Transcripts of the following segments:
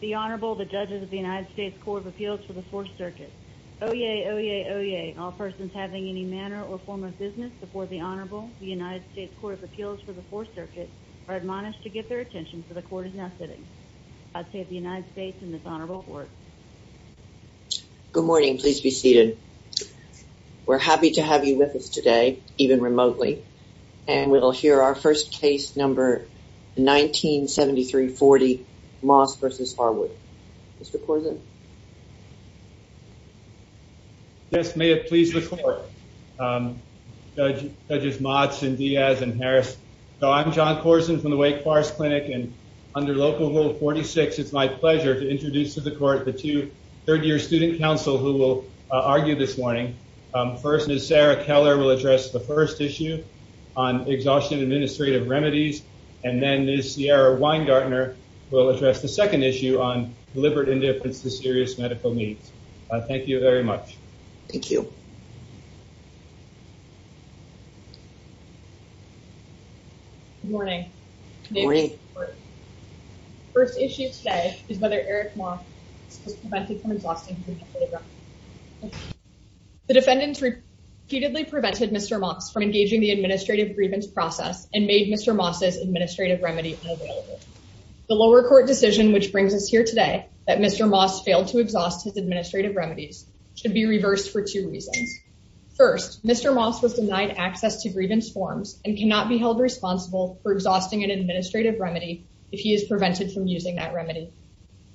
The Honorable, the Judges of the United States Court of Appeals for the Fourth Circuit. Oyez! Oyez! Oyez! All persons having any manner or form of business before the Honorable, the United States Court of Appeals for the Fourth Circuit, are admonished to get their attention, for the Court is now sitting. God save the United States and this Honorable Court. Good morning. Please be seated. We're happy to have you with us today, even remotely, and we'll hear our first case number 1973-40, Moss v. Harwood. Mr. Corzine. Yes, may it please the Court, Judges Motz and Diaz and Harris. So, I'm John Corzine from the Wake Forest Clinic and under Local Rule 46, it's my pleasure to introduce to the Court the two third-year student counsel who will argue this morning. First, Ms. Sarah Keller will address the first issue on exhaustion administrative remedies and then Ms. Ciara Weingartner will address the second issue on deliberate indifference to serious medical needs. Thank you very much. Thank you. Good morning. First issue today is whether Eric Moss was prevented from exhausting. The defendants repeatedly prevented Mr. Moss from engaging the administrative grievance process and made Mr. Moss's administrative remedy unavailable. The lower court decision, which brings us here today, that Mr. Moss failed to exhaust his administrative remedies should be reversed for two reasons. First, Mr. Moss was denied access to grievance forms and cannot be held responsible for exhausting an administrative remedy if he is prevented from using that remedy.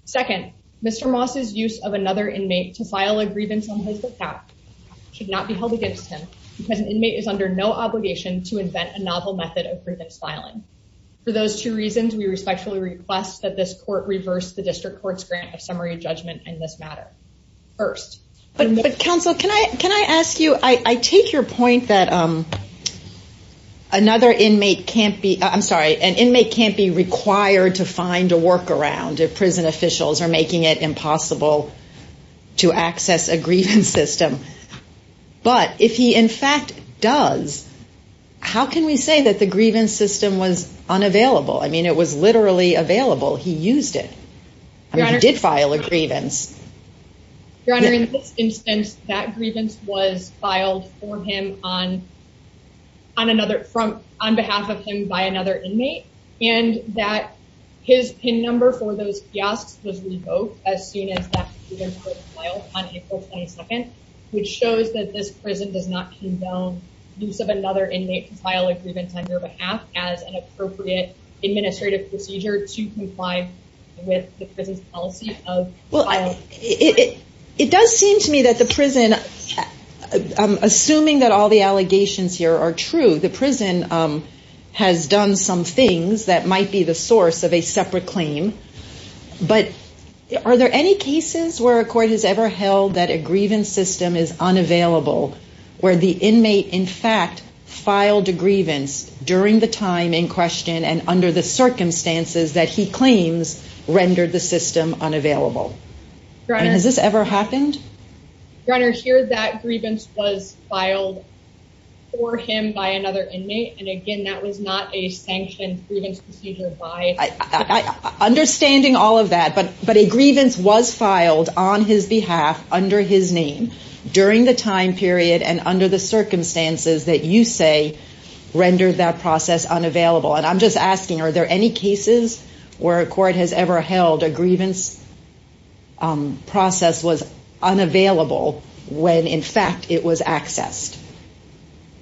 Second, Mr. Moss's use of another inmate to file a grievance on his behalf should not be held against him because an inmate is under no obligation to invent a novel method of grievance filing. For those two reasons, we respectfully request that this Court reverse the District Court's grant of summary judgment in this matter. First... But counsel, can I ask you, I take your point that another inmate can't be, I'm sorry, an inmate can't be required to find a workaround if prison officials are making it impossible to access a grievance system. But if he in fact does, how can we say that the grievance system was unavailable? I mean, it was literally available. He used it. He did file a grievance. Your Honor, in this instance, that grievance was filed for him on behalf of him by another inmate and that his PIN number for those fiascos was revoked as soon as that grievance was filed on April 22nd, which shows that this prison does not condone use of another inmate to file a grievance on your behalf as an appropriate administrative procedure to comply with the prison's policy of filing a grievance. It does seem to me that the prison, assuming that all the allegations here are true, the prison has done some things that might be the source of a separate claim. But are there any cases where a court has ever held that a grievance system is unavailable where the inmate in fact filed a grievance during the time in question and under the circumstances that he claims rendered the system unavailable? Has this ever happened? Your Honor, here that grievance was filed for him by another inmate. And again, that was not a sanctioned grievance procedure by... Understanding all of that, but a grievance was filed on his behalf under his name during the time period and under the circumstances that you say rendered that process unavailable. And I'm just asking, are there any cases where a court has ever held a grievance process was unavailable when in fact it was accessed?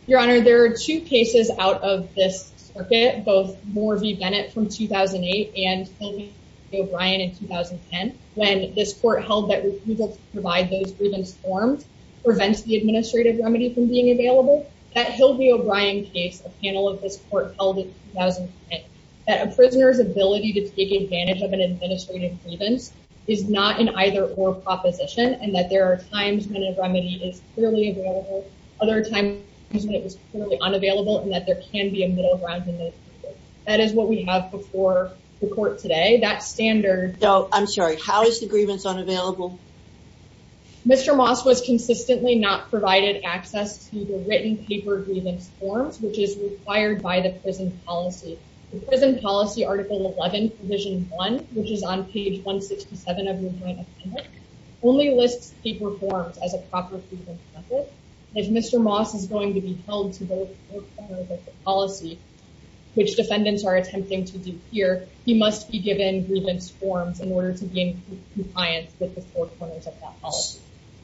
Your Honor, there are two cases out of this circuit, both Moore v. Bennett from 2008 and Hill v. O'Brien in 2010, when this court held that refusal to provide those grievance forms prevents the administrative remedy from being available. At Hill v. O'Brien case, a panel of this court held in 2010, that a prisoner's ability to take advantage of an administrative grievance is not an either-or proposition and that there are times when a remedy is clearly available, other times when it was clearly unavailable, and that there can be a middle ground in this case. That is what we have before the court today. That standard... So, I'm sorry, how is the grievance unavailable? Mr. Moss was consistently not provided access to the written paper grievance forms, which is required by the prison policy. The prison policy, Article 11, Provision 1, which is on page 167 of your point of comment, only lists paper forms as a proper grievance method. If Mr. Moss is going to be held to both the court and the policy, which defendants are attempting to do here, he must be given grievance forms in order to be in compliance with the four corners of that policy.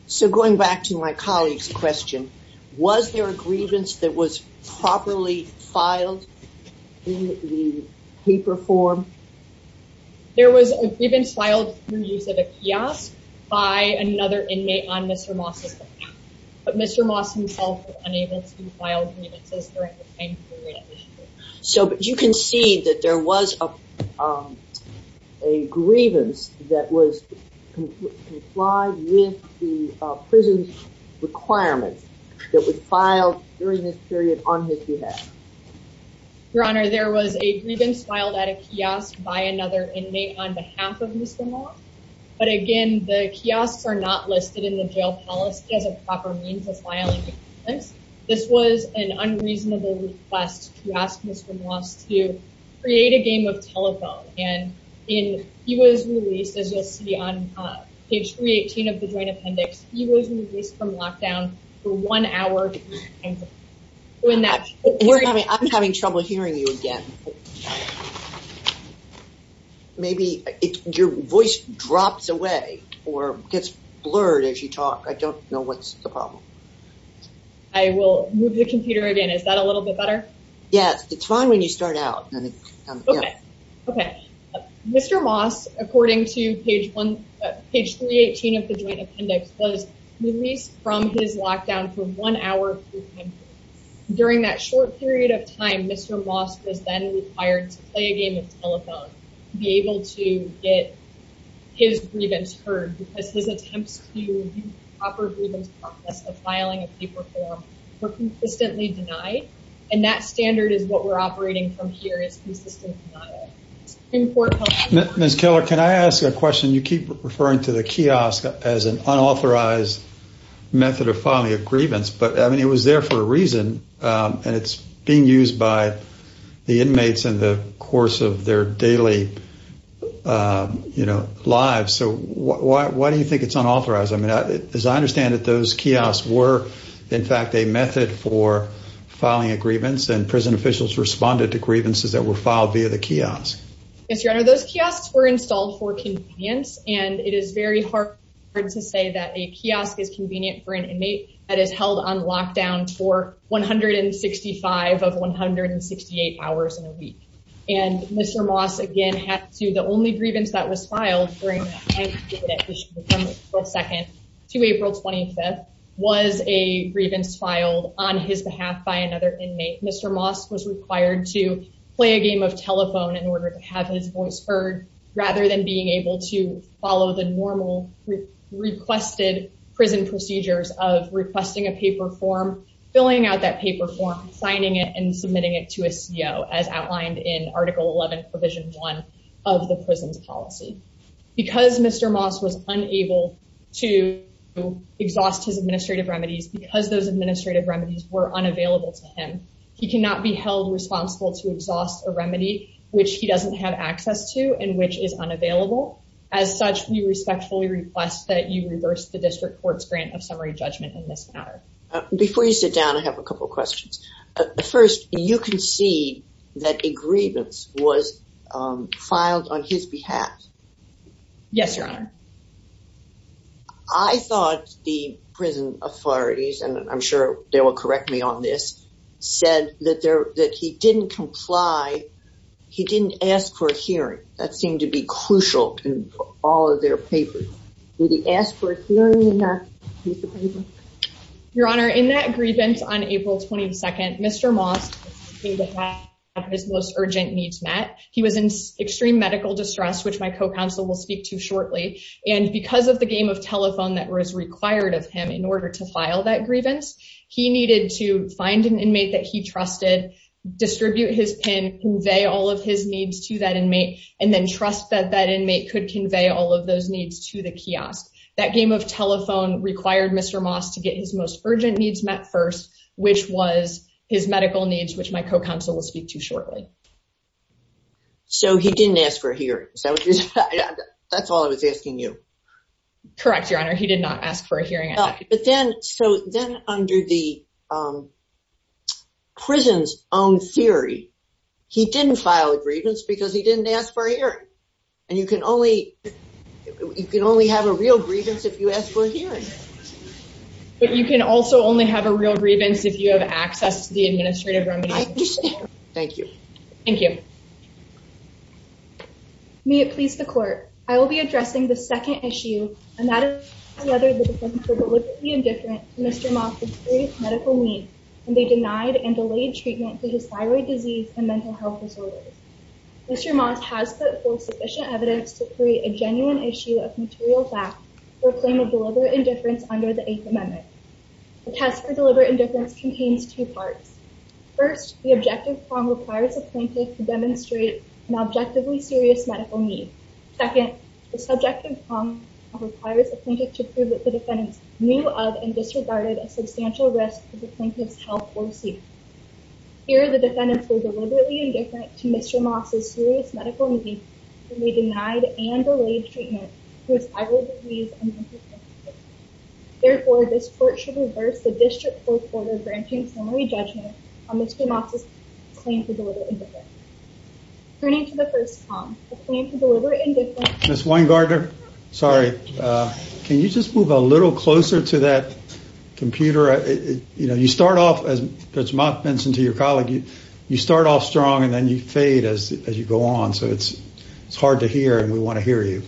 So, going back to my colleague's question, was there a grievance that was properly filed in the paper form? There was a grievance filed through use of a kiosk by another inmate on Mr. Moss's behalf, but Mr. Moss himself was unable to file grievances during the time period. So, but you can see that there was a grievance that was complied with the prison requirements that was filed during this period on his behalf. Your Honor, there was a grievance filed at a kiosk by another inmate on behalf of Mr. Moss, but again, the kiosks are not listed in the jail policy as a proper means of filing grievance. This was an unreasonable request to ask Mr. Moss to create a game of telephone, and he was released, as you'll see on page 318 of the joint appendix, he was released from lockdown for one hour. I'm having trouble hearing you again. Maybe your voice drops away or gets blurred as you talk. I don't know what's the problem. I will move the computer again. Is that a little bit better? Yes, it's fine when you start out. Okay. Mr. Moss, according to page 318 of the joint appendix, was released from his lockdown for one hour. During that short period of time, Mr. Moss was then required to play a game of telephone to be able to get his grievance heard because his attempts to review the proper grievance process of filing a paper form were consistently denied, and that standard is what we're operating from here. It's consistent. Ms. Keller, can I ask a question? You keep referring to the kiosk as an unauthorized method of filing a grievance, but I mean, it was there for a reason, and it's being used by the inmates in the course of their daily lives, so why do you think it's unauthorized? As I understand it, those kiosks were, in fact, a method for filing a grievance, and prison officials responded to grievances that were filed via the kiosk. Yes, Your Honor, those kiosks were installed for convenience, and it is very hard to say that a kiosk can do 165 of 168 hours in a week, and Mr. Moss, again, had to, the only grievance that was filed during that time period from April 2nd to April 25th was a grievance filed on his behalf by another inmate. Mr. Moss was required to play a game of telephone in order to have his voice heard rather than being able to follow the normal requested prison procedures of requesting a paper form, signing it, and submitting it to a CO, as outlined in Article 11, Provision 1 of the prison's policy. Because Mr. Moss was unable to exhaust his administrative remedies, because those administrative remedies were unavailable to him, he cannot be held responsible to exhaust a remedy which he doesn't have access to and which is unavailable. As such, we respectfully request that you reverse the district court's grant of summary judgment in this matter. Before you sit down, I have a couple of questions. First, you concede that a grievance was filed on his behalf. Yes, Your Honor. I thought the prison authorities, and I'm sure they will correct me on this, said that he didn't comply, he didn't ask for a hearing. That seemed to be inappropriate. In that grievance on April 22nd, Mr. Moss needed to have his most urgent needs met. He was in extreme medical distress, which my co-counsel will speak to shortly. And because of the game of telephone that was required of him in order to file that grievance, he needed to find an inmate that he trusted, distribute his PIN, convey all of his needs to that inmate, and then trust that that inmate could convey all of those needs to the kiosk. That game of telephone required Mr. Moss to get his most urgent needs met first, which was his medical needs, which my co-counsel will speak to shortly. So he didn't ask for a hearing. That's all I was asking you. Correct, Your Honor. He did not ask for a hearing. So then under the prison's own theory, he didn't file a grievance because he didn't ask for a hearing. But you can also only have a real grievance if you have access to the administrative remedy. I understand. Thank you. Thank you. May it please the Court, I will be addressing the second issue, and that is whether the defendants were deliberately indifferent to Mr. Moss's serious medical needs, and they denied and delayed treatment for his thyroid disease and mental health disorders. Mr. Moss has put forth sufficient evidence to create a genuine issue of material fact for a claim of deliberate indifference under the Eighth Amendment. The test for deliberate indifference contains two parts. First, the objective prong requires the plaintiff to demonstrate an objectively serious medical need. Second, the subjective prong requires the plaintiff to prove that the defendants knew of and disregarded a substantial risk to the plaintiff's health or safety. Here, the defendants were deliberately indifferent to his thyroid disease and mental health disorders. Therefore, this Court should reverse the district court order granting summary judgment on Mr. Moss's claim to deliberate indifference. Turning to the first prong, a claim to deliberate indifference... Ms. Weingartner, sorry, can you just move a little closer to that computer? You know, you start off, as Mr. Moss mentioned to your colleague, you start off strong and then you fade as you go on, so it's hard to hear, and we want to hear you.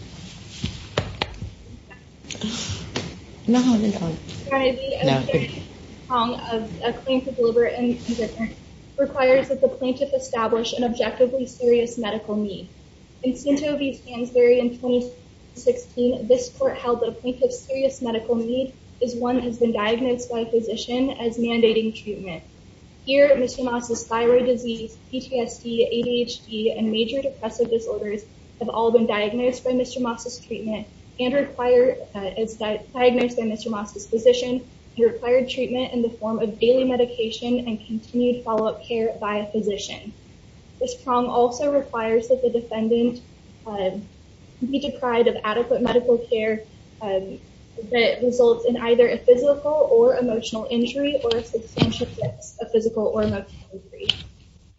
No, I haven't done it. Sorry. A claim to deliberate indifference requires that the plaintiff establish an objectively serious medical need. In Cento v. Hansberry in 2016, this Court held that a plaintiff's serious medical need is one that has been diagnosed by a physician as mandating treatment. Here, Mr. Moss's thyroid disease, PTSD, ADHD, and major depressive disorders have all been diagnosed by Mr. Moss's treatment and required, as diagnosed by Mr. Moss's physician, he required treatment in the form of daily medication and continued follow-up care by a physician. This prong also requires that the defendant be deprived of adequate medical care that results in either a physical or emotional injury or a substantial physical or emotional injury.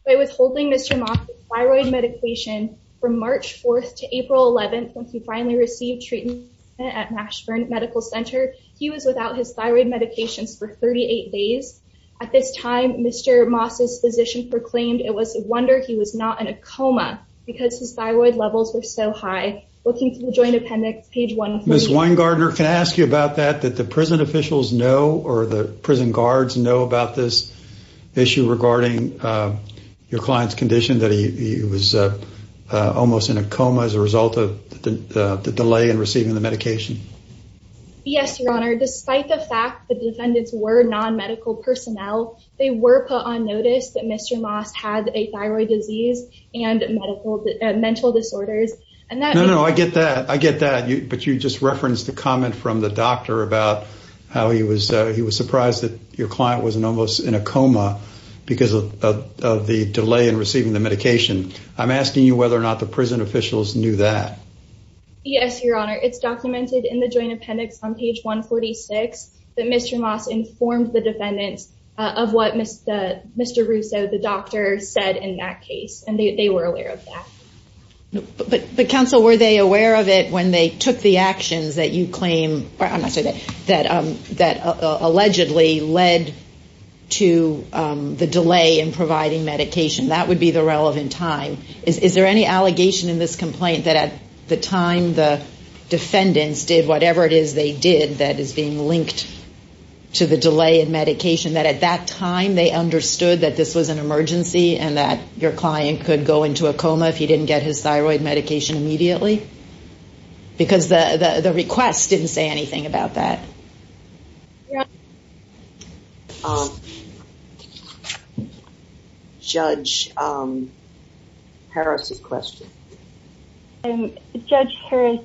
By withholding Mr. Moss's thyroid medication from March 4th to April 11th, when he finally received treatment at Mashburn Medical Center, he was without his thyroid medications for 38 days. At this time, Mr. Moss's physician proclaimed it was a wonder he was not in a coma because his thyroid levels were so high. Looking through the Joint Appendix, page 140... Ms. Weingardner, can I ask you about that? Did the prison officials know or the prison guards know about this issue regarding your client's condition, that he was almost in a coma as a result of the delay in receiving the medication? Yes, Your Honor. Despite the fact the defendants were non-medical personnel, they were put on notice that Mr. Moss had a thyroid disease and mental disorders. No, no, I get that. I get that. But you just referenced the comment from the doctor about how he was surprised that your client was almost in a coma because of the delay in receiving the medication. I'm asking you whether or not the prison officials knew that. Yes, Your Honor. It's documented in the Joint Appendix on page 146 that Mr. Moss informed the defendants of what Mr. Russo, the doctor, said in that case, and they were aware of that. But counsel, were they aware of it when they took the actions that allegedly led to the delay in providing medication? That would be the relevant time. Is there any allegation in this complaint that at the time the defendants did whatever it is they did that is being linked to the delay in medication, that at that time they understood that this was an emergency and that your client could go into a coma if he didn't get his thyroid medication immediately? Because the request didn't say anything about that. Judge Harris' question. Judge Harris,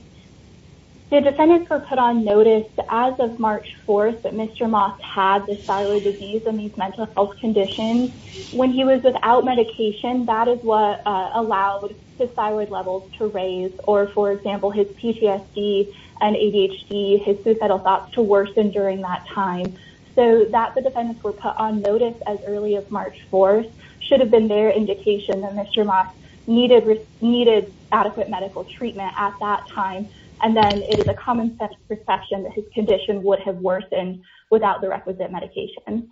the defendants were put on notice as of March 4th that Mr. Moss had this thyroid disease and these mental health conditions. When he was without medication, that is what allowed his thyroid levels to raise or, for example, his PTSD and ADHD, his suicidal thoughts to worsen during that time. So that the defendants were put on notice as early as March 4th should have been their indication that Mr. Moss needed adequate medical treatment at that time. And then it is a common sense perception that his condition would have worsened without the requisite medication.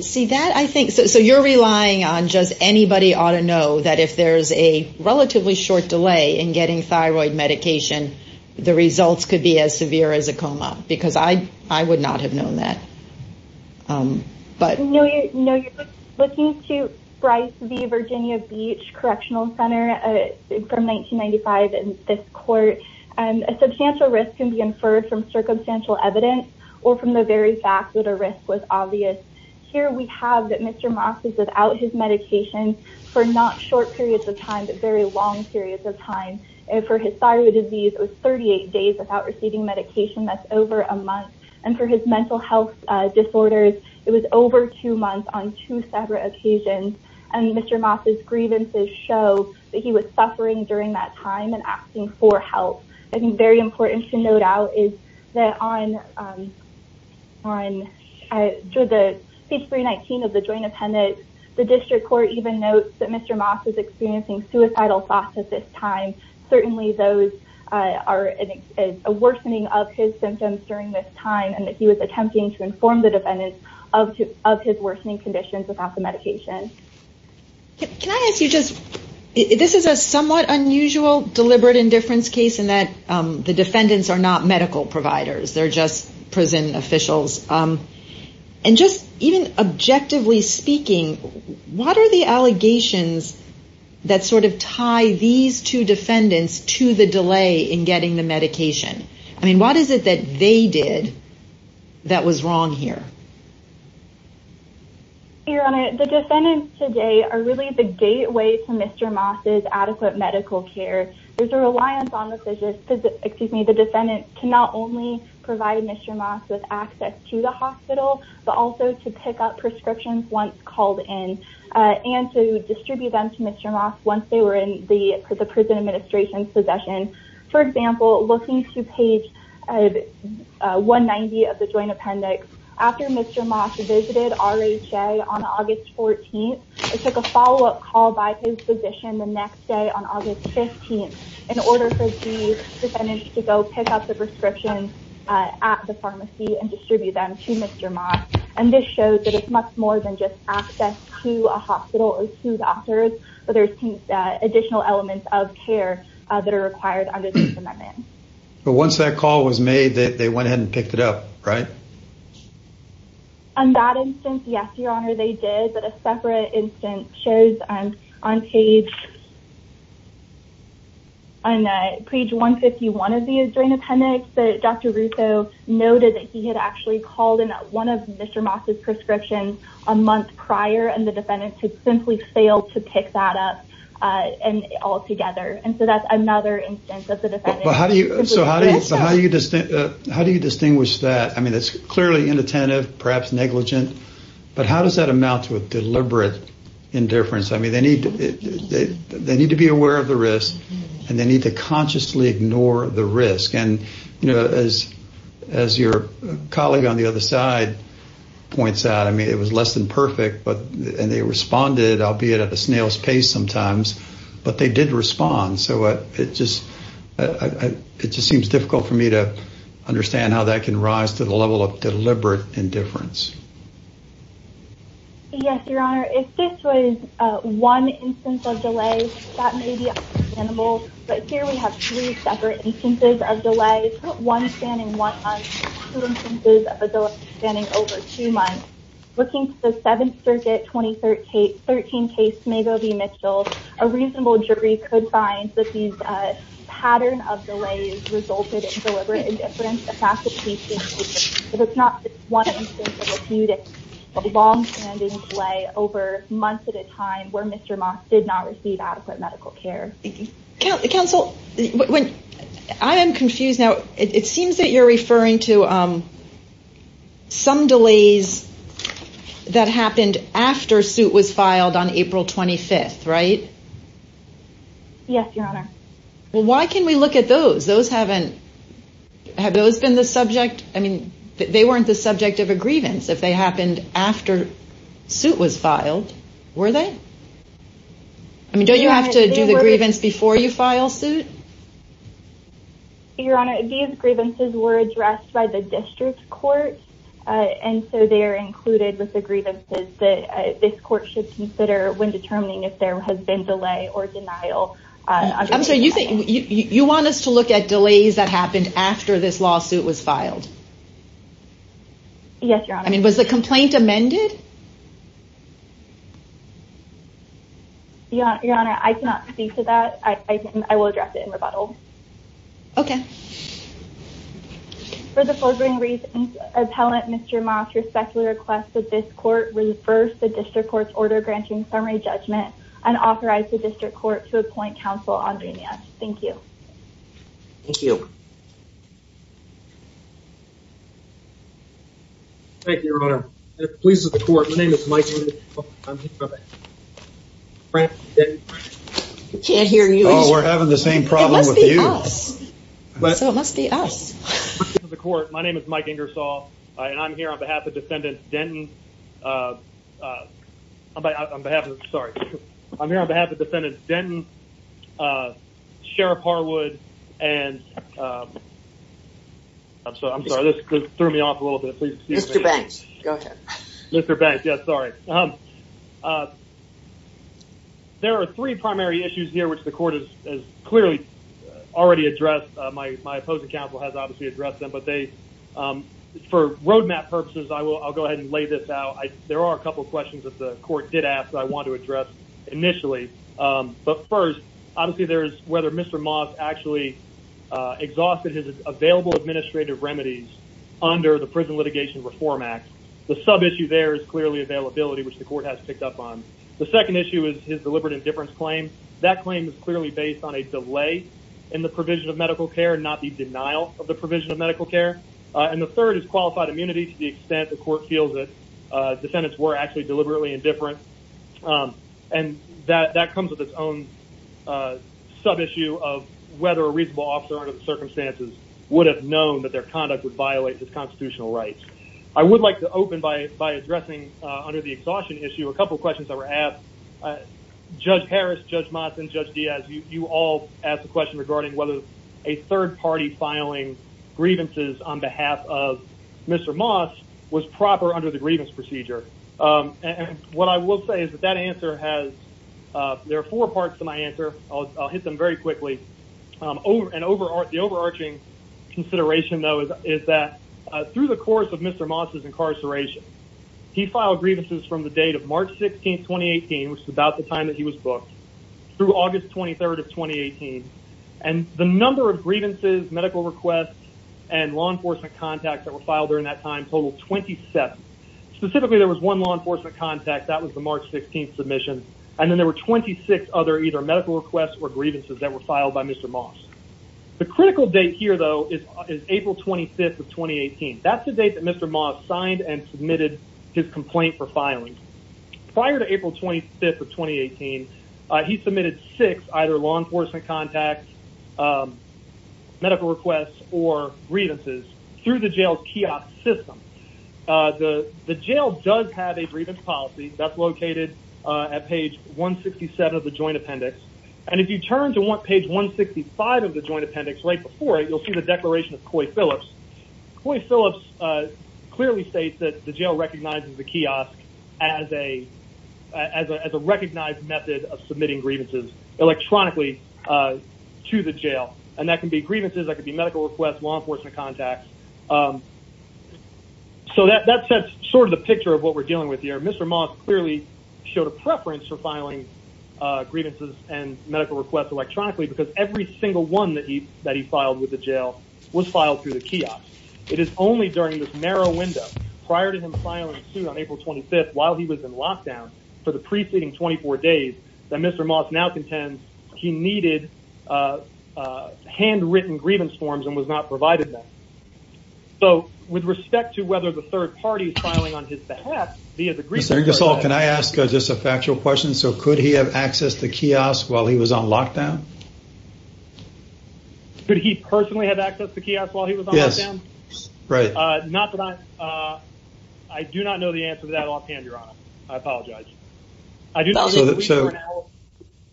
So you're relying on just anybody ought to know that if there's a relatively short delay in getting thyroid medication, the results could be as severe as a coma. Because I would not have known that. Looking to Bryce v. Virginia Beach Correctional from 1995 in this court, a substantial risk can be inferred from circumstantial evidence or from the very fact that a risk was obvious. Here we have that Mr. Moss is without his medication for not short periods of time, but very long periods of time. And for his thyroid disease, it was 38 days without receiving medication. That's over a month. And for his mental health disorders, it was over two months on two separate occasions. And Mr. Moss' grievances show that he was suffering during that time and asking for help. I think very important to note out is that on page 319 of the joint appendix, the district court even notes that Mr. Moss is experiencing suicidal thoughts at this time. Certainly those are a worsening of his symptoms during this time and that he was attempting to inform the defendants of his worsening conditions without the medication. Can I ask you just, this is a somewhat unusual deliberate indifference case in that the defendants are not medical providers. They're just prison officials. And just even objectively speaking, what are the allegations that sort of tie these two defendants to the delay in getting the medication? I mean, what is it that they did that was wrong here? Your Honor, the defendants today are really the gateway to Mr. Moss' adequate medical care. There's a reliance on the defendant to not only provide Mr. Moss with access to the hospital, but also to pick up prescriptions once called in and to distribute them to Mr. Moss once they were in the prison administration's possession. For example, looking to page 190 of the joint Mr. Moss visited RHA on August 14th and took a follow-up call by his physician the next day on August 15th in order for the defendants to go pick up the prescriptions at the pharmacy and distribute them to Mr. Moss. And this shows that it's much more than just access to a hospital or two doctors, but there's additional elements of care that are required under this amendment. But once that call was made, they went ahead and picked it up, right? On that instance, yes, Your Honor, they did. But a separate instance shows on page 151 of the joint appendix that Dr. Russo noted that he had actually called in one of Mr. Moss' prescriptions a month prior and the defendants had simply failed to pick that up and all together. And so that's another instance of the defendant. But how do you distinguish that? I mean, it's clearly inattentive, perhaps negligent, but how does that amount to a deliberate indifference? I mean, they need to be aware of the risk and they need to consciously ignore the risk. And as your colleague on the other side points out, I mean, it was less than perfect and they responded, albeit at the snail's pace sometimes, but they did respond. So it just seems difficult for me to understand how that can rise to the level of deliberate indifference. Yes, Your Honor, if this was one instance of delay, that may be understandable, but here we have three separate instances of delay, one spanning one month, two instances of a delay spanning over two months. Looking at the Seventh Circuit 2013 case, Mago v. Mitchell, a reasonable jury could find that these pattern of delays resulted in deliberate indifference. But it's not just one instance of a few, it's a long-standing delay over months at a time where Mr. Moss did not receive adequate medical care. Counsel, I am confused now. It seems that you're referring to some delays that happened after suit was filed on April 25th, right? Yes, Your Honor. Well, why can we look at those? Those haven't, have those been the subject? I mean, they weren't the subject of a grievance. If they happened after suit was filed, were they? I mean, don't you have to do the grievance before you file suit? Your Honor, these grievances were addressed by the district court and so they are included with the grievances that this court should consider when determining if there has been delay or denial. I'm sorry, you want us to look at delays that happened after this lawsuit was filed? Yes, Your Honor. I mean, was the complaint amended? Your Honor, I cannot speak to that. I will address it in rebuttal. Okay. For the foregoing reasons, Appellant Mr. Moss respectfully requests that this court reverse the district court's order granting summary judgment and authorize the district court to appoint counsel on remand. Thank you. Thank you. Thank you, Your Honor. The police of the court, my name is Mike. I'm here. We can't hear you. Oh, we're having the same problem with you. So it must be us. The court, my name is Mike Ingersoll, and I'm here on behalf of Defendant Denton. I'm sorry, I'm here on behalf of Defendant Denton, Sheriff Harwood, and I'm sorry, this threw me off a little bit. Mr. Banks, go ahead. Mr. Banks, sorry. There are three primary issues here, which the court has clearly already addressed. My opposing counsel has obviously addressed them, but for roadmap purposes, I'll go ahead and lay this out. There are a couple of questions that the court did ask that I want to address initially. But first, obviously, there's whether Mr. Moss actually exhausted his available administrative remedies under the Prison Litigation Reform Act. The sub-issue there is clearly availability, which the court has picked up on. The second issue is his deliberate indifference claim. That claim is clearly based on a delay in the provision of medical care and not the denial of the provision of medical care. And the third is qualified immunity to the extent the court feels that defendants were actually deliberately indifferent. And that comes with its own sub-issue of whether a reasonable officer under the circumstances would have known that their conduct would violate his constitutional rights. I would like to open by addressing, under the exhaustion issue, a couple of questions that were asked. Judge Harris, Judge Moss, and Judge Diaz, you all asked a question regarding whether a third party filing grievances on behalf of Mr. Moss was proper under the grievance procedure. And what I will say is that that answer, I'll hit them very quickly. The overarching consideration, though, is that through the course of Mr. Moss's incarceration, he filed grievances from the date of March 16, 2018, which is about the time that he was booked, through August 23, 2018. And the number of grievances, medical requests, and law enforcement contacts that were filed during that time totaled 27. Specifically, there was one law enforcement contact. That was the March 16 submission. And then there were 26 other either medical requests or grievances that were filed by Mr. Moss. The critical date here, though, is April 25th of 2018. That's the date that Mr. Moss signed and submitted his complaint for filing. Prior to April 25th of 2018, he submitted six either law enforcement contacts, medical requests, or grievances through the jail's kiosk system. The jail does have a grievance policy. That's located at page 167 of the joint appendix. And if you turn to page 165 of the joint appendix, right before it, you'll see the declaration of Coy Phillips. Coy Phillips clearly states that the jail recognizes the kiosk as a recognized method of submitting grievances electronically to the jail. And that can be So that sets sort of the picture of what we're dealing with here. Mr. Moss clearly showed a preference for filing grievances and medical requests electronically because every single one that he filed with the jail was filed through the kiosk. It is only during this narrow window prior to him filing a suit on April 25th while he was in lockdown for the preceding 24 days that Mr. Moss now contends he needed handwritten grievance forms and was not provided them. So with respect to whether the third party is filing on his behalf, he has agreed to Mr. Gasol, can I ask just a factual question? So could he have access to kiosk while he was on lockdown? Could he personally have access to kiosk while he was on lockdown? Yes. Right. I do not know the answer to that offhand, Your Honor. I apologize.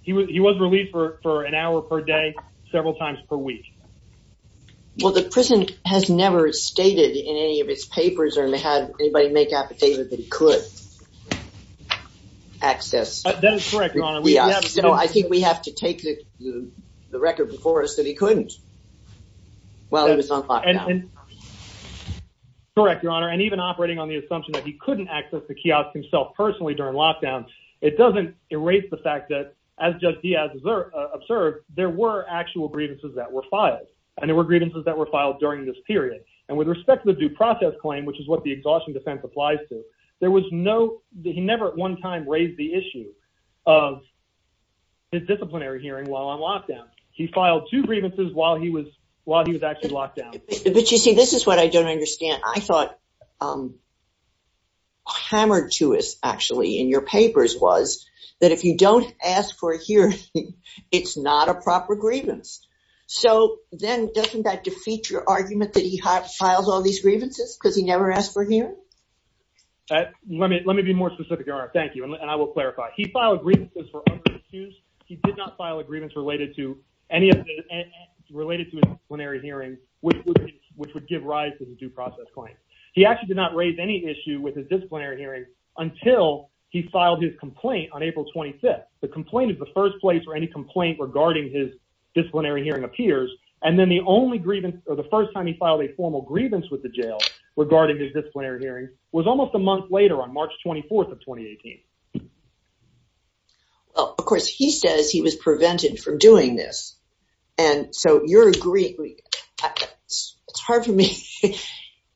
He was released for an hour per day, several times per week. Well, the prison has never stated in any of its papers or had anybody make an affidavit that he could access. That is correct, Your Honor. I think we have to take the record before us that he couldn't while he was on lockdown. Correct, Your Honor. And even operating on the assumption that he couldn't access the kiosk himself personally during lockdown, it doesn't erase the fact that as Judge Diaz observed, there were actual grievances that were filed. And there were grievances that were filed during this period. And with respect to the due process claim, which is what the exhaustion defense applies to, there was no, he never at one time raised the issue of his disciplinary hearing while on lockdown. He filed two grievances while he was actually locked down. But you see, this is what I don't understand. I thought what was hammered to us, actually, in your papers was that if you don't ask for a hearing, it's not a proper grievance. So then doesn't that defeat your argument that he files all these grievances because he never asked for a hearing? Let me be more specific, Your Honor. Thank you. And I will clarify. He filed grievances for other issues. He did not file a grievance related to disciplinary hearings, which would give rise to the due process claim. He actually did not raise any issue with his disciplinary hearing until he filed his complaint on April 25th. The complaint is the first place where any complaint regarding his disciplinary hearing appears. And then the only grievance or the first time he filed a formal grievance with the jail regarding his disciplinary hearing was almost a month later on March 24th of 2018. Well, of course, he says he was prevented from doing this. And so it's hard for me.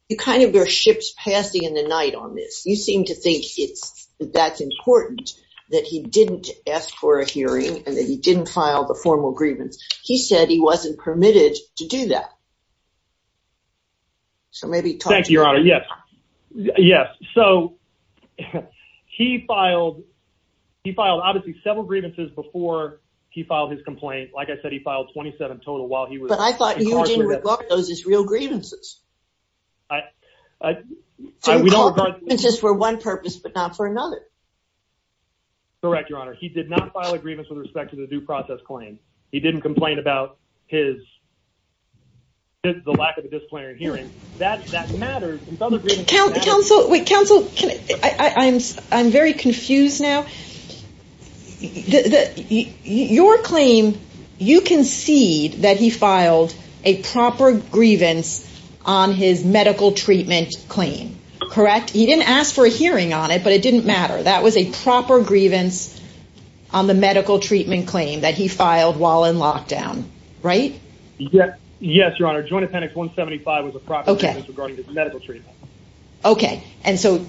You kind of bear ships passing in the night on this. You seem to think that's important that he didn't ask for a hearing and that he didn't file the formal grievance. He said he wasn't permitted to do that. So maybe talk to me. Thank you, Your Honor. Yes. Yes. So he filed. He filed obviously several grievances before he filed his complaint. Like I said, he filed 27 total while he was. But I thought you didn't regard those as real grievances. We don't regard grievances for one purpose, but not for another. Correct, Your Honor. He did not file a grievance with respect to the due process claim. He didn't complain about his. The lack of a disciplinary hearing that matters. Counsel, counsel, I'm very confused now. Your claim, you concede that he filed a proper grievance on his medical treatment claim, correct? He didn't ask for a hearing on it, but it didn't matter. That was a proper grievance on the medical treatment claim that he filed while in lockdown, right? Yes. Yes, Your Honor. Joint Appendix 175 was a proper grievance regarding his medical treatment. OK. And so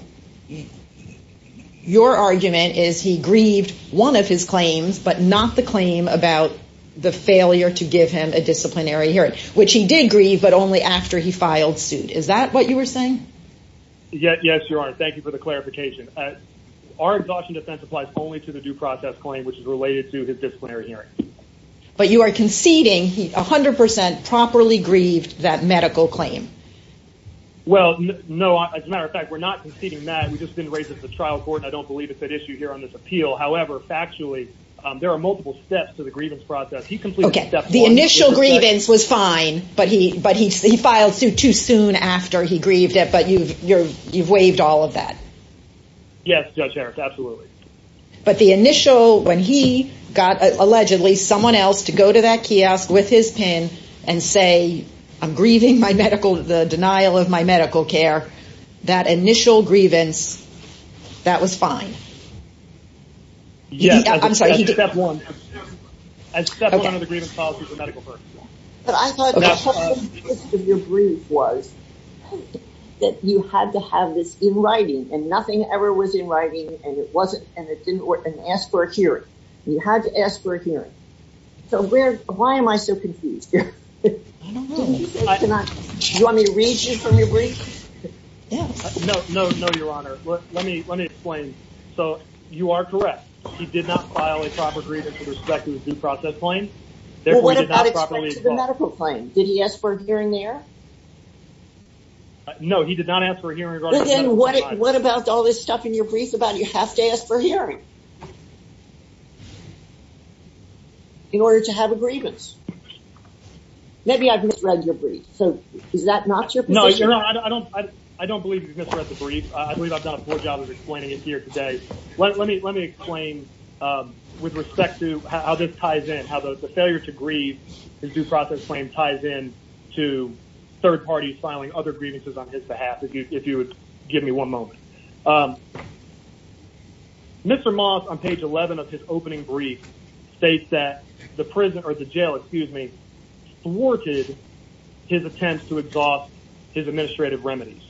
your argument is he grieved one of his claims, but not the claim about the failure to give him a disciplinary hearing, which he did grieve, but only after he filed suit. Is that what you were saying? Yes, Your Honor. Thank you for the clarification. Our exhaustion defense applies only to the due process claim, which is related to his disciplinary hearing. But you are conceding he 100 percent properly grieved that medical claim. Well, no, as a matter of fact, we're not conceding that. We just didn't raise it to the trial court. I don't believe it's at issue here on this appeal. However, factually, there are multiple steps to the grievance process. He completed the initial grievance was fine, but he but he filed suit too soon after he grieved it. But you've you've you've waived all of that. Yes, Judge Harris, absolutely. But the initial when he got allegedly someone else to go to that kiosk with his pen and say, I'm grieving my medical, the denial of my medical care, that initial grievance, that was fine. Yeah, I'm sorry. He did that one. I accept one of the grievance policies of medical court. But I thought your brief was that you had to have this in writing and nothing ever was in writing. And it wasn't. And it didn't work. And ask for a hearing. You had to ask for a hearing. So where why am I so confused? Let me read you from your brief. No, no, no, Your Honor. Let me let me explain. So you are correct. He did not file a proper grievance with respect to the due process claim. What about the medical claim? Did he ask for a hearing there? No, he did not ask for a hearing. What about all this stuff in your brief about you have to ask for hearing? In order to have a grievance. Maybe I've misread your brief. So is that not your position? I don't I don't believe you misread the brief. I believe I've done a poor job of explaining it here today. Let me let me explain with respect to how this ties in, how the failure to grieve his due process claim ties in to third parties filing other grievances on his behalf. If you would give me one moment. Mr. Moss on page 11 of his opening brief states that the prison or the jail, excuse me, thwarted his attempts to exhaust his administrative remedies.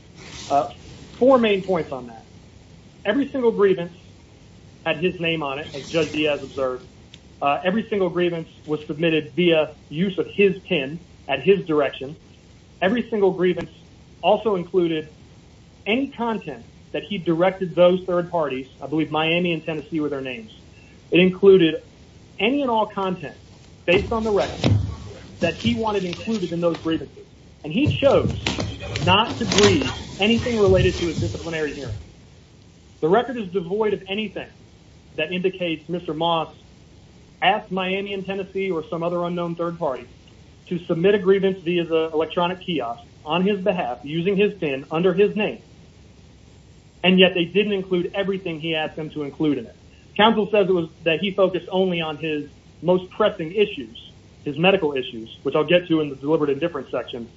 Four main points on that. Every single grievance had his name on it. As Judge Diaz observed, every single grievance was submitted via use of his pen at his direction. Every single grievance also included any content that he directed those third parties. I believe Miami and Tennessee were their names. It included any and all content based on the record that he wanted included in those grievances. And he chose not to grieve anything related to a disciplinary hearing. The record is devoid of Mr. Moss asked Miami and Tennessee or some other unknown third party to submit a grievance via the electronic kiosk on his behalf using his pen under his name. And yet they didn't include everything he asked them to include in it. Counsel says it was that he focused only on his most pressing issues, his medical issues, which I'll get to in the deliberate indifference section.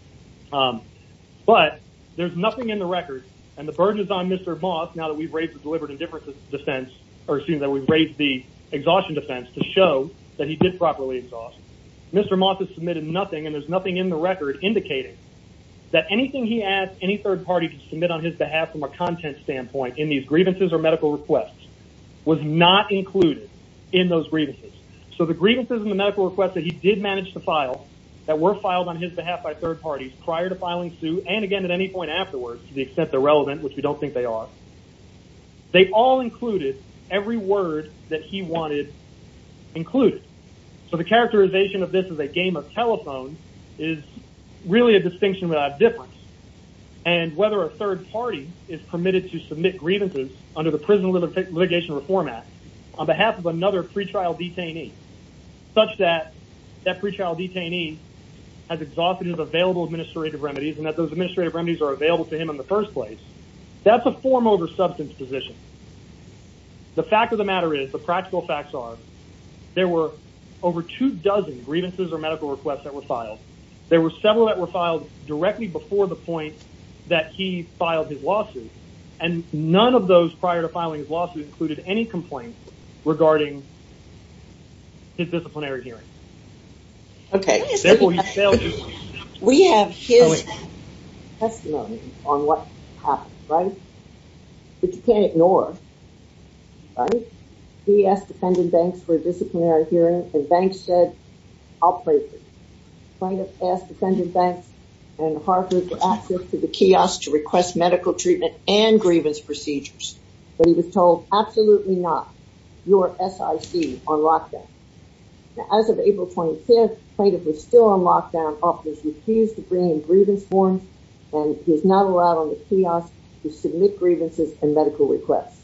But there's nothing in the record and the burden is on Mr. Moss now that we've raised the deliberate indifference defense, or excuse me, that we've raised the exhaustion defense to show that he did properly exhaust. Mr. Moss has submitted nothing and there's nothing in the record indicating that anything he asked any third party to submit on his behalf from a content standpoint in these grievances or medical requests was not included in those grievances. So the grievances and the medical requests that he did manage to file that were filed on his behalf by third parties prior to filing suit and again at any point afterwards to the extent they're relevant, which we don't think they are, they all included every word that he wanted included. So the characterization of this as a game of telephone is really a distinction without difference. And whether a third party is permitted to submit grievances under the Prison Litigation Reform Act on behalf of another pretrial detainee such that that pretrial detainee has exhausted his available administrative remedies and that those administrative remedies are available to him in the first place, that's a form over substance position. The fact of the matter is, the practical facts are, there were over two dozen grievances or medical requests that were filed. There were several that were filed directly before the point that he filed his lawsuit and none of those prior to filing his lawsuit included any complaint regarding his disciplinary hearing. Okay. We have his testimony on what happened, right? But you can't ignore, right? He asked defendant Banks for a disciplinary hearing and Banks said, I'll play this. Plaintiff asked defendant Banks and Harford for access to the kiosk to request medical treatment and grievance procedures, but he was absolutely not your SIC on lockdown. Now, as of April 25th, plaintiff was still on lockdown, officers refused to bring in grievance forms and he was not allowed on the kiosk to submit grievances and medical requests.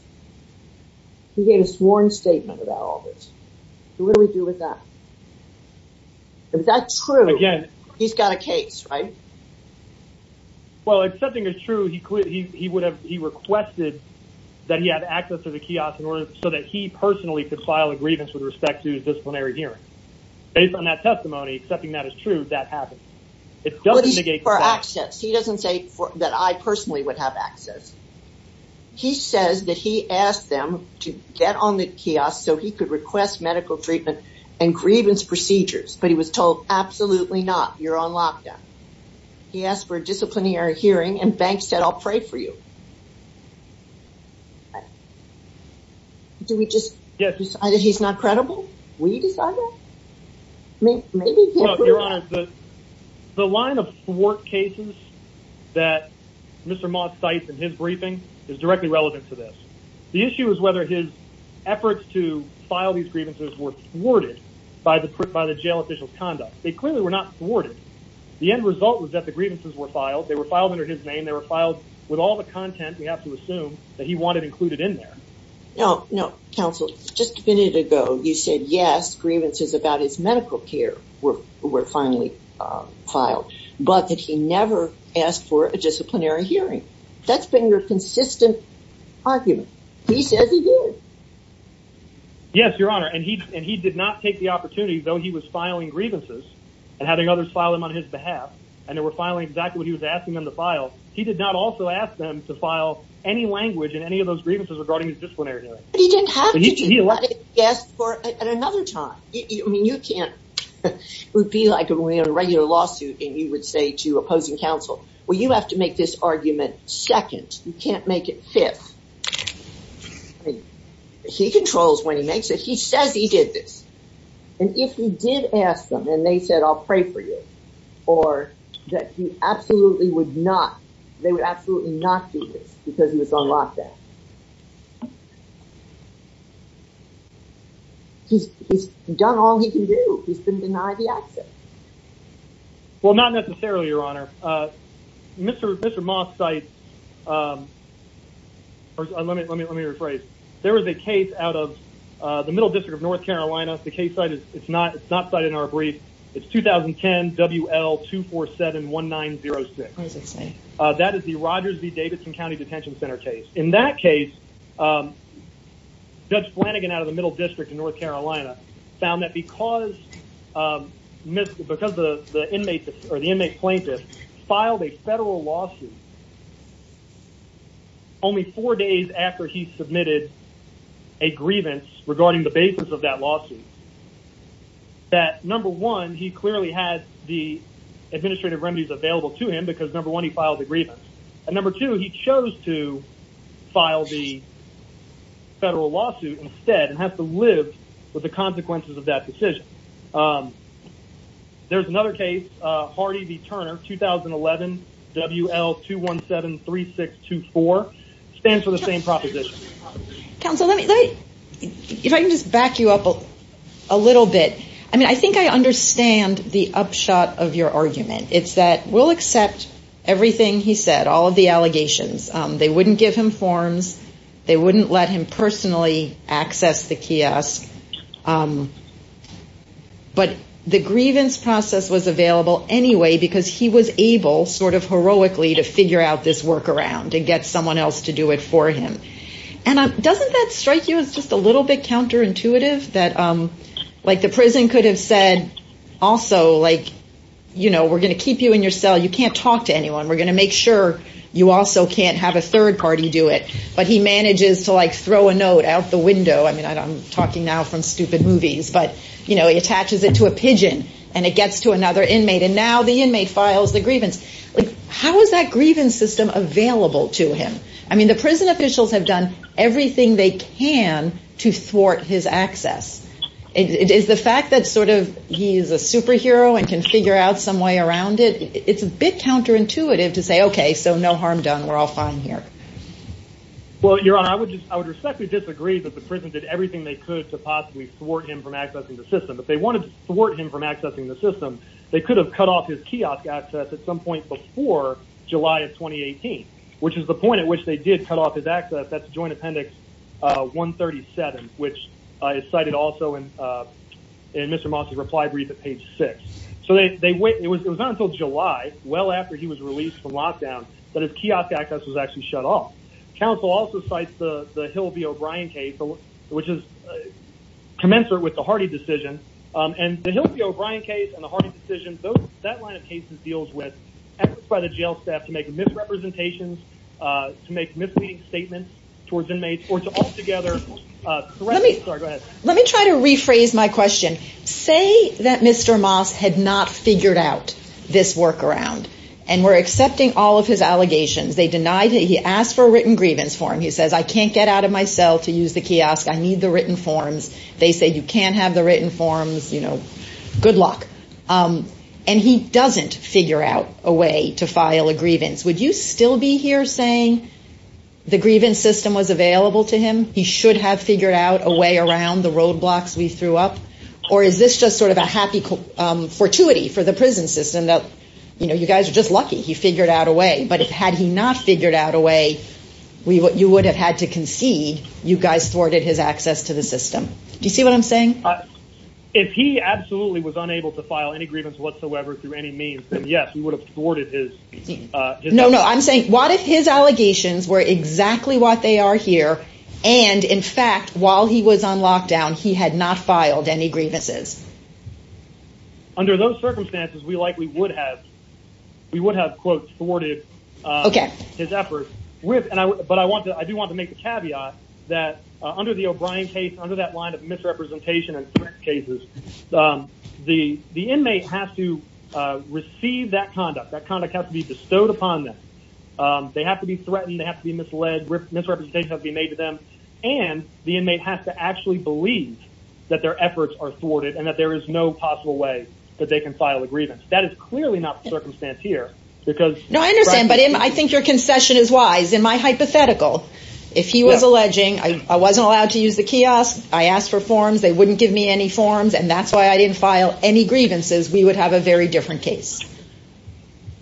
He gave a sworn statement about all this. So what do we do with that? If that's true, he's got a case, right? Well, if something is true, he would have, he requested that he had access to the kiosk in order so that he personally could file a grievance with respect to disciplinary hearing. Based on that testimony, accepting that as true, that happens. It doesn't negate- For access. He doesn't say that I personally would have access. He says that he asked them to get on the kiosk so he could request medical treatment and grievance procedures, but he was told absolutely not, you're on lockdown. He asked for a disciplinary hearing and Banks said, I'll pray for you. Do we just decide that he's not credible? Will you decide that? Your Honor, the line of work cases that Mr. Moss cites in his briefing is directly relevant to this. The issue is whether his efforts to file these grievances were thwarted by the jail conduct. They clearly were not thwarted. The end result was that the grievances were filed. They were filed under his name. They were filed with all the content we have to assume that he wanted included in there. No, no. Counsel, just a minute ago, you said, yes, grievances about his medical care were finally filed, but that he never asked for a disciplinary hearing. That's been your consistent argument. He says he did. Yes, Your Honor. And he did not take the opportunity, though he was filing grievances and having others file them on his behalf, and they were filing exactly what he was asking them to file. He did not also ask them to file any language in any of those grievances regarding disciplinary hearings. But he didn't have to do that, I guess, at another time. I mean, you can't be like a regular lawsuit and you would say to opposing counsel, well, you have to make this argument second. You can't make it fifth. He controls when he makes it. He did ask them and they said, I'll pray for you or that you absolutely would not. They would absolutely not do this because he was on lockdown. He's done all he can do. He's been denied the access. Well, not necessarily, Your Honor. Mr. Moss sites. Let me let me let me rephrase. There is a case out of the Middle District of North Carolina. The case site is it's not it's not cited in our brief. It's 2010 WL two four seven one nine zero six. That is the Rogers v. Davidson County Detention Center case. In that case, Judge Flanagan out of the Middle District in North Carolina found that because because the inmate or the inmate plaintiff filed a federal lawsuit only four days after he submitted a grievance regarding the basis of that lawsuit. That number one, he clearly had the administrative remedies available to him because number one, he filed a grievance. And number two, he chose to file the federal lawsuit instead and have to live with the consequences of that decision. There's another case, Hardy v. Turner, 2011 WL two one seven three six two four stands for the same proposition. Counsel, let me if I can just back you up a little bit. I mean, I think I understand the upshot of your argument. It's that we'll accept everything he said, all of the allegations. They wouldn't give him forms. They wouldn't let him personally access the kiosk. But the grievance process was available anyway, because he was able sort of heroically to figure out this work around and get someone else to do it for him. And doesn't that strike you as just a little bit counterintuitive that like the prison could have said also, like, you know, we're going to keep you in your cell. You can't talk to anyone. We're going to make sure you also have a third party do it. But he manages to like throw a note out the window. I mean, I'm talking now from stupid movies, but, you know, he attaches it to a pigeon and it gets to another inmate. And now the inmate files the grievance. How is that grievance system available to him? I mean, the prison officials have done everything they can to thwart his access. It is the fact that sort of he's a superhero and can figure out some way around it. It's a bit counterintuitive to say, OK, so no harm done. We're all fine here. Well, Your Honor, I would just I would respectfully disagree that the prison did everything they could to possibly thwart him from accessing the system. If they wanted to thwart him from accessing the system, they could have cut off his kiosk access at some point before July of 2018, which is the point at which they did cut off his access. That's Joint Appendix 137, which is cited also in Mr. Moss's reply brief at page six. So they wait. It was not until July, well after he was released from lockdown, that his kiosk access was actually shut off. Counsel also cites the Hill v. O'Brien case, which is commensurate with the Hardy decision. And the Hill v. O'Brien case and the Hardy decision, that line of cases deals with efforts by the jail staff to make misrepresentations, to make misleading statements towards inmates or to altogether. Let me go ahead. Let me try to rephrase my question. Say that Mr. Moss had not figured out this workaround and were accepting all of his allegations. They denied he asked for a written grievance form. He says, I can't get out of my cell to use the kiosk. I need the written forms. They say you can't have the written forms. You know, good luck. And he doesn't figure out a way to file a grievance. Would you still be here saying the grievance system was available to him? He should have figured out a way around the roadblocks we threw up? Or is this just sort of a happy fortuity for the prison system that, you know, you guys are just lucky he figured out a way. But had he not figured out a way, you would have had to concede you guys thwarted his access to the system. Do you see what I'm saying? If he absolutely was unable to file any grievance whatsoever through any means, yes, we would have thwarted his. No, no, I'm saying what if his allegations were exactly what they are here. And in fact, while he was on lockdown, he had not filed any grievances. Under those circumstances, we likely would have. We would have, quote, thwarted his efforts with and I but I want to I do want to make the caveat that under the O'Brien case, under that line of misrepresentation and cases, the the inmate has to receive that conduct. That kind of has to be bestowed upon them. They have to be threatened. They have to be misled. Misrepresentation has been made to them. And the inmate has to actually believe that their efforts are thwarted and that there is no possible way that they can file a grievance. That is clearly not the circumstance here because. No, I understand. But I think your concession is wise in my hypothetical. If he was alleging I wasn't allowed to use the kiosk, I asked for forms, they wouldn't give me any forms. And that's why I didn't file any grievances. We would have a very different case.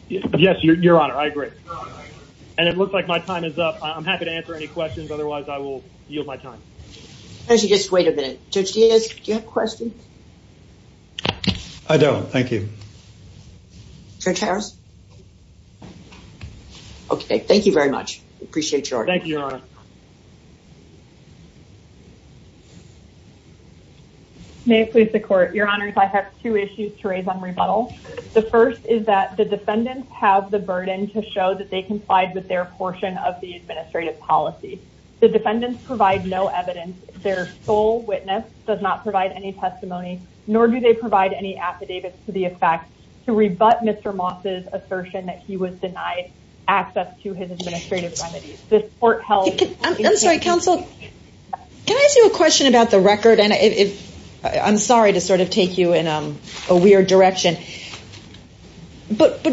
Yes, your honor, I agree. And it looks like my time is up. I'm happy to answer any questions. Otherwise, I will yield my time. Actually, just wait a minute. Judge Diaz, do you have a question? I don't. Thank you. Judge Harris. Okay. Thank you very much. I appreciate your time. Thank you, your honor. May it please the court. Your honors, I have two issues to raise on rebuttal. The first is that the defendants have the burden to show that they complied with their portion of the administrative policy. The defendants provide no evidence. Their sole witness does not provide any testimony, nor do they provide any affidavits to the effect to rebut Mr. Moss's assertion that he was denied access to his administrative remedies. This court held... I'm sorry, counsel. Can I ask you a question about the record? And I'm sorry to sort of take you in a weird direction. But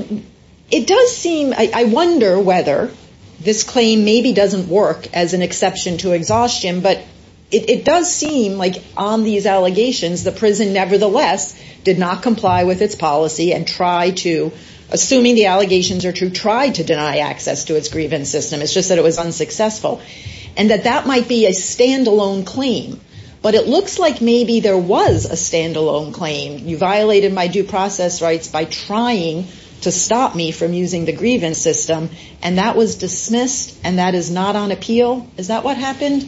it does seem, I wonder whether this claim maybe doesn't work as an exception to exhaustion. But it does seem like on these allegations, the prison nevertheless did not comply with its policy and try to, assuming the allegations are true, try to deny access to its grievance system. It's just that it was unsuccessful. And that that might be a standalone claim. But it looks like maybe there was a standalone claim. You violated my due process rights by trying to stop me from using the grievance system. And that was dismissed. And that is not on appeal. Is that what happened?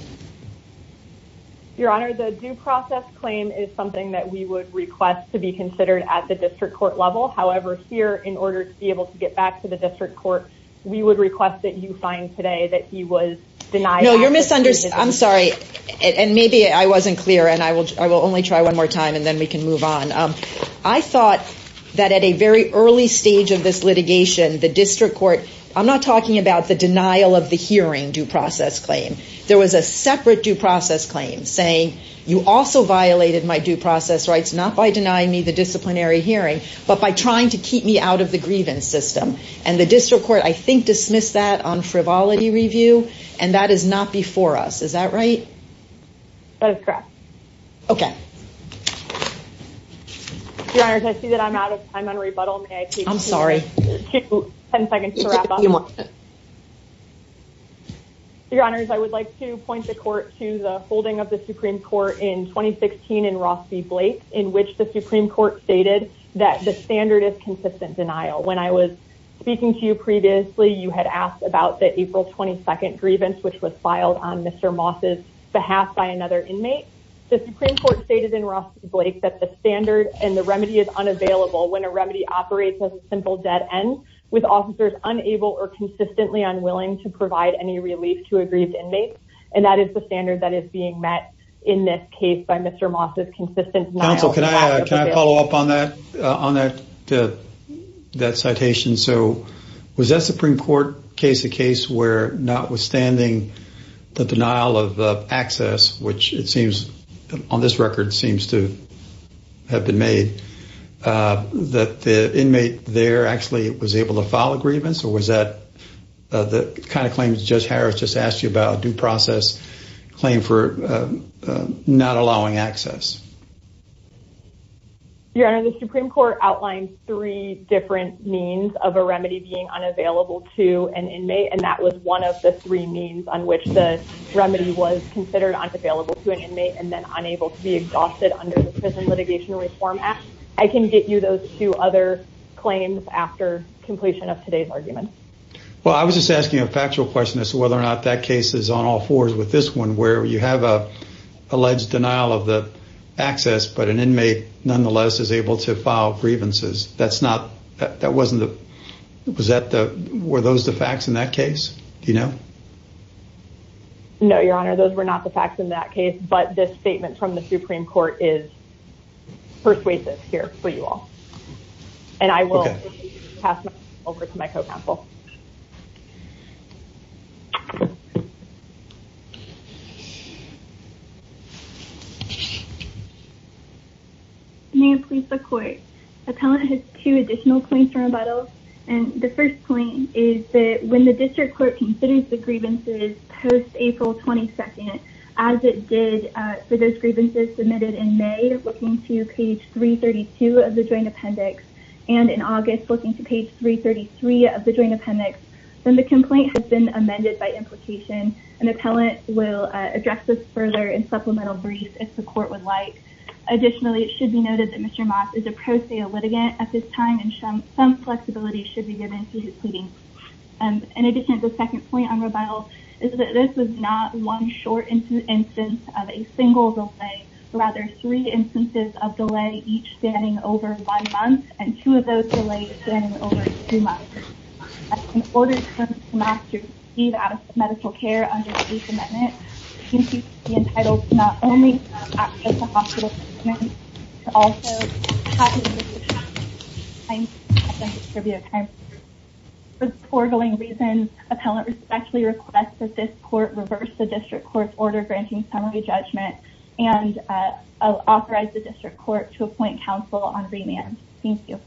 Your Honor, the due process claim is something that we would request to be considered at the district court level. However, here, in order to be able to get back to the district court, we would request that you find today that he was denied access... No, you're misunderstood. I'm sorry. And maybe I wasn't clear and I will only try one more time and then we can move on. I thought that at a very early stage of this litigation, the district court, I'm not talking about the denial of the hearing due process claim. There was a separate due process claim saying you also violated my due process rights, not by denying me the disciplinary hearing, but by trying to keep me out of the grievance system. And the district court, I think, dismissed that on frivolity review. And that is not before us. Is that right? That is correct. Okay. Your Honor, I see that I'm out of time on rebuttal. I'm sorry. 10 seconds to wrap up. Your Honor, I would like to point the court to the holding of the Supreme Court in 2016 in Ross v. Blake, in which the Supreme Court stated that the standard is consistent denial. When I was speaking to you previously, you had asked about the April 22nd grievance, which was filed on Mr. Moss's behalf by another inmate. The Supreme Court stated in simple dead end, with officers unable or consistently unwilling to provide any relief to a grieved inmate. And that is the standard that is being met in this case by Mr. Moss's consistent denial. Counsel, can I follow up on that citation? So was that Supreme Court case a case where notwithstanding the denial of access, which it seems on this record seems to have been made, that the inmate there actually was able to file a grievance? Or was that the kind of claims Judge Harris just asked you about, a due process claim for not allowing access? Your Honor, the Supreme Court outlined three different means of a remedy being unavailable to an inmate. And that was one of the three means on which the remedy was considered available to an inmate and then unable to be exhausted under the Prison Litigation Reform Act. I can get you those two other claims after completion of today's argument. Well, I was just asking a factual question as to whether or not that case is on all fours with this one, where you have a alleged denial of the access, but an inmate nonetheless is able to file grievances. That's not, that wasn't the, was that the, were those the facts in that case? Do you know? No, Your Honor, those were not the facts in that case, but this statement from the Supreme Court is persuasive here for you all. And I will pass it over to my co-counsel. May it please the Court. Appellant has two additional claims to rebuttal. And the first point is that when the District Court considers the grievances post-April 22nd, as it did for those grievances submitted in May, looking to page 332 of the Joint Appendix, and in August, looking to page 333 of the Joint Appendix, then the complaint has been amended by implication. An appellant will address this further in supplemental brief if the Court would like. Additionally, it should be noted that Mr. Moss is a pro se litigant at this time and some flexibility should be given to his pleadings. In addition, the second point on rebuttal is that this was not one short instance of a single delay, but rather three instances of delay, each spanning over one month, and two of those delays spanning over two months. In order for Mr. Moss to receive adequate medical care under the Eighth Amendment, he should be entitled to not only access to hospital treatment, but to also have his discretionary time spent on distributed time. For the foregoing reasons, appellant respectfully requests that this Court reverse the District Court's order granting summary judgment and authorize the District Court to appoint counsel on remand. Thank you.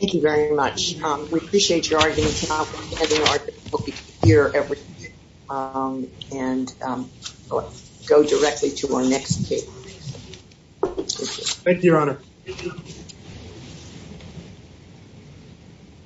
Thank you very much. We appreciate your arguments. We'll be here every week and go directly to our next case. Thank you, Your Honor.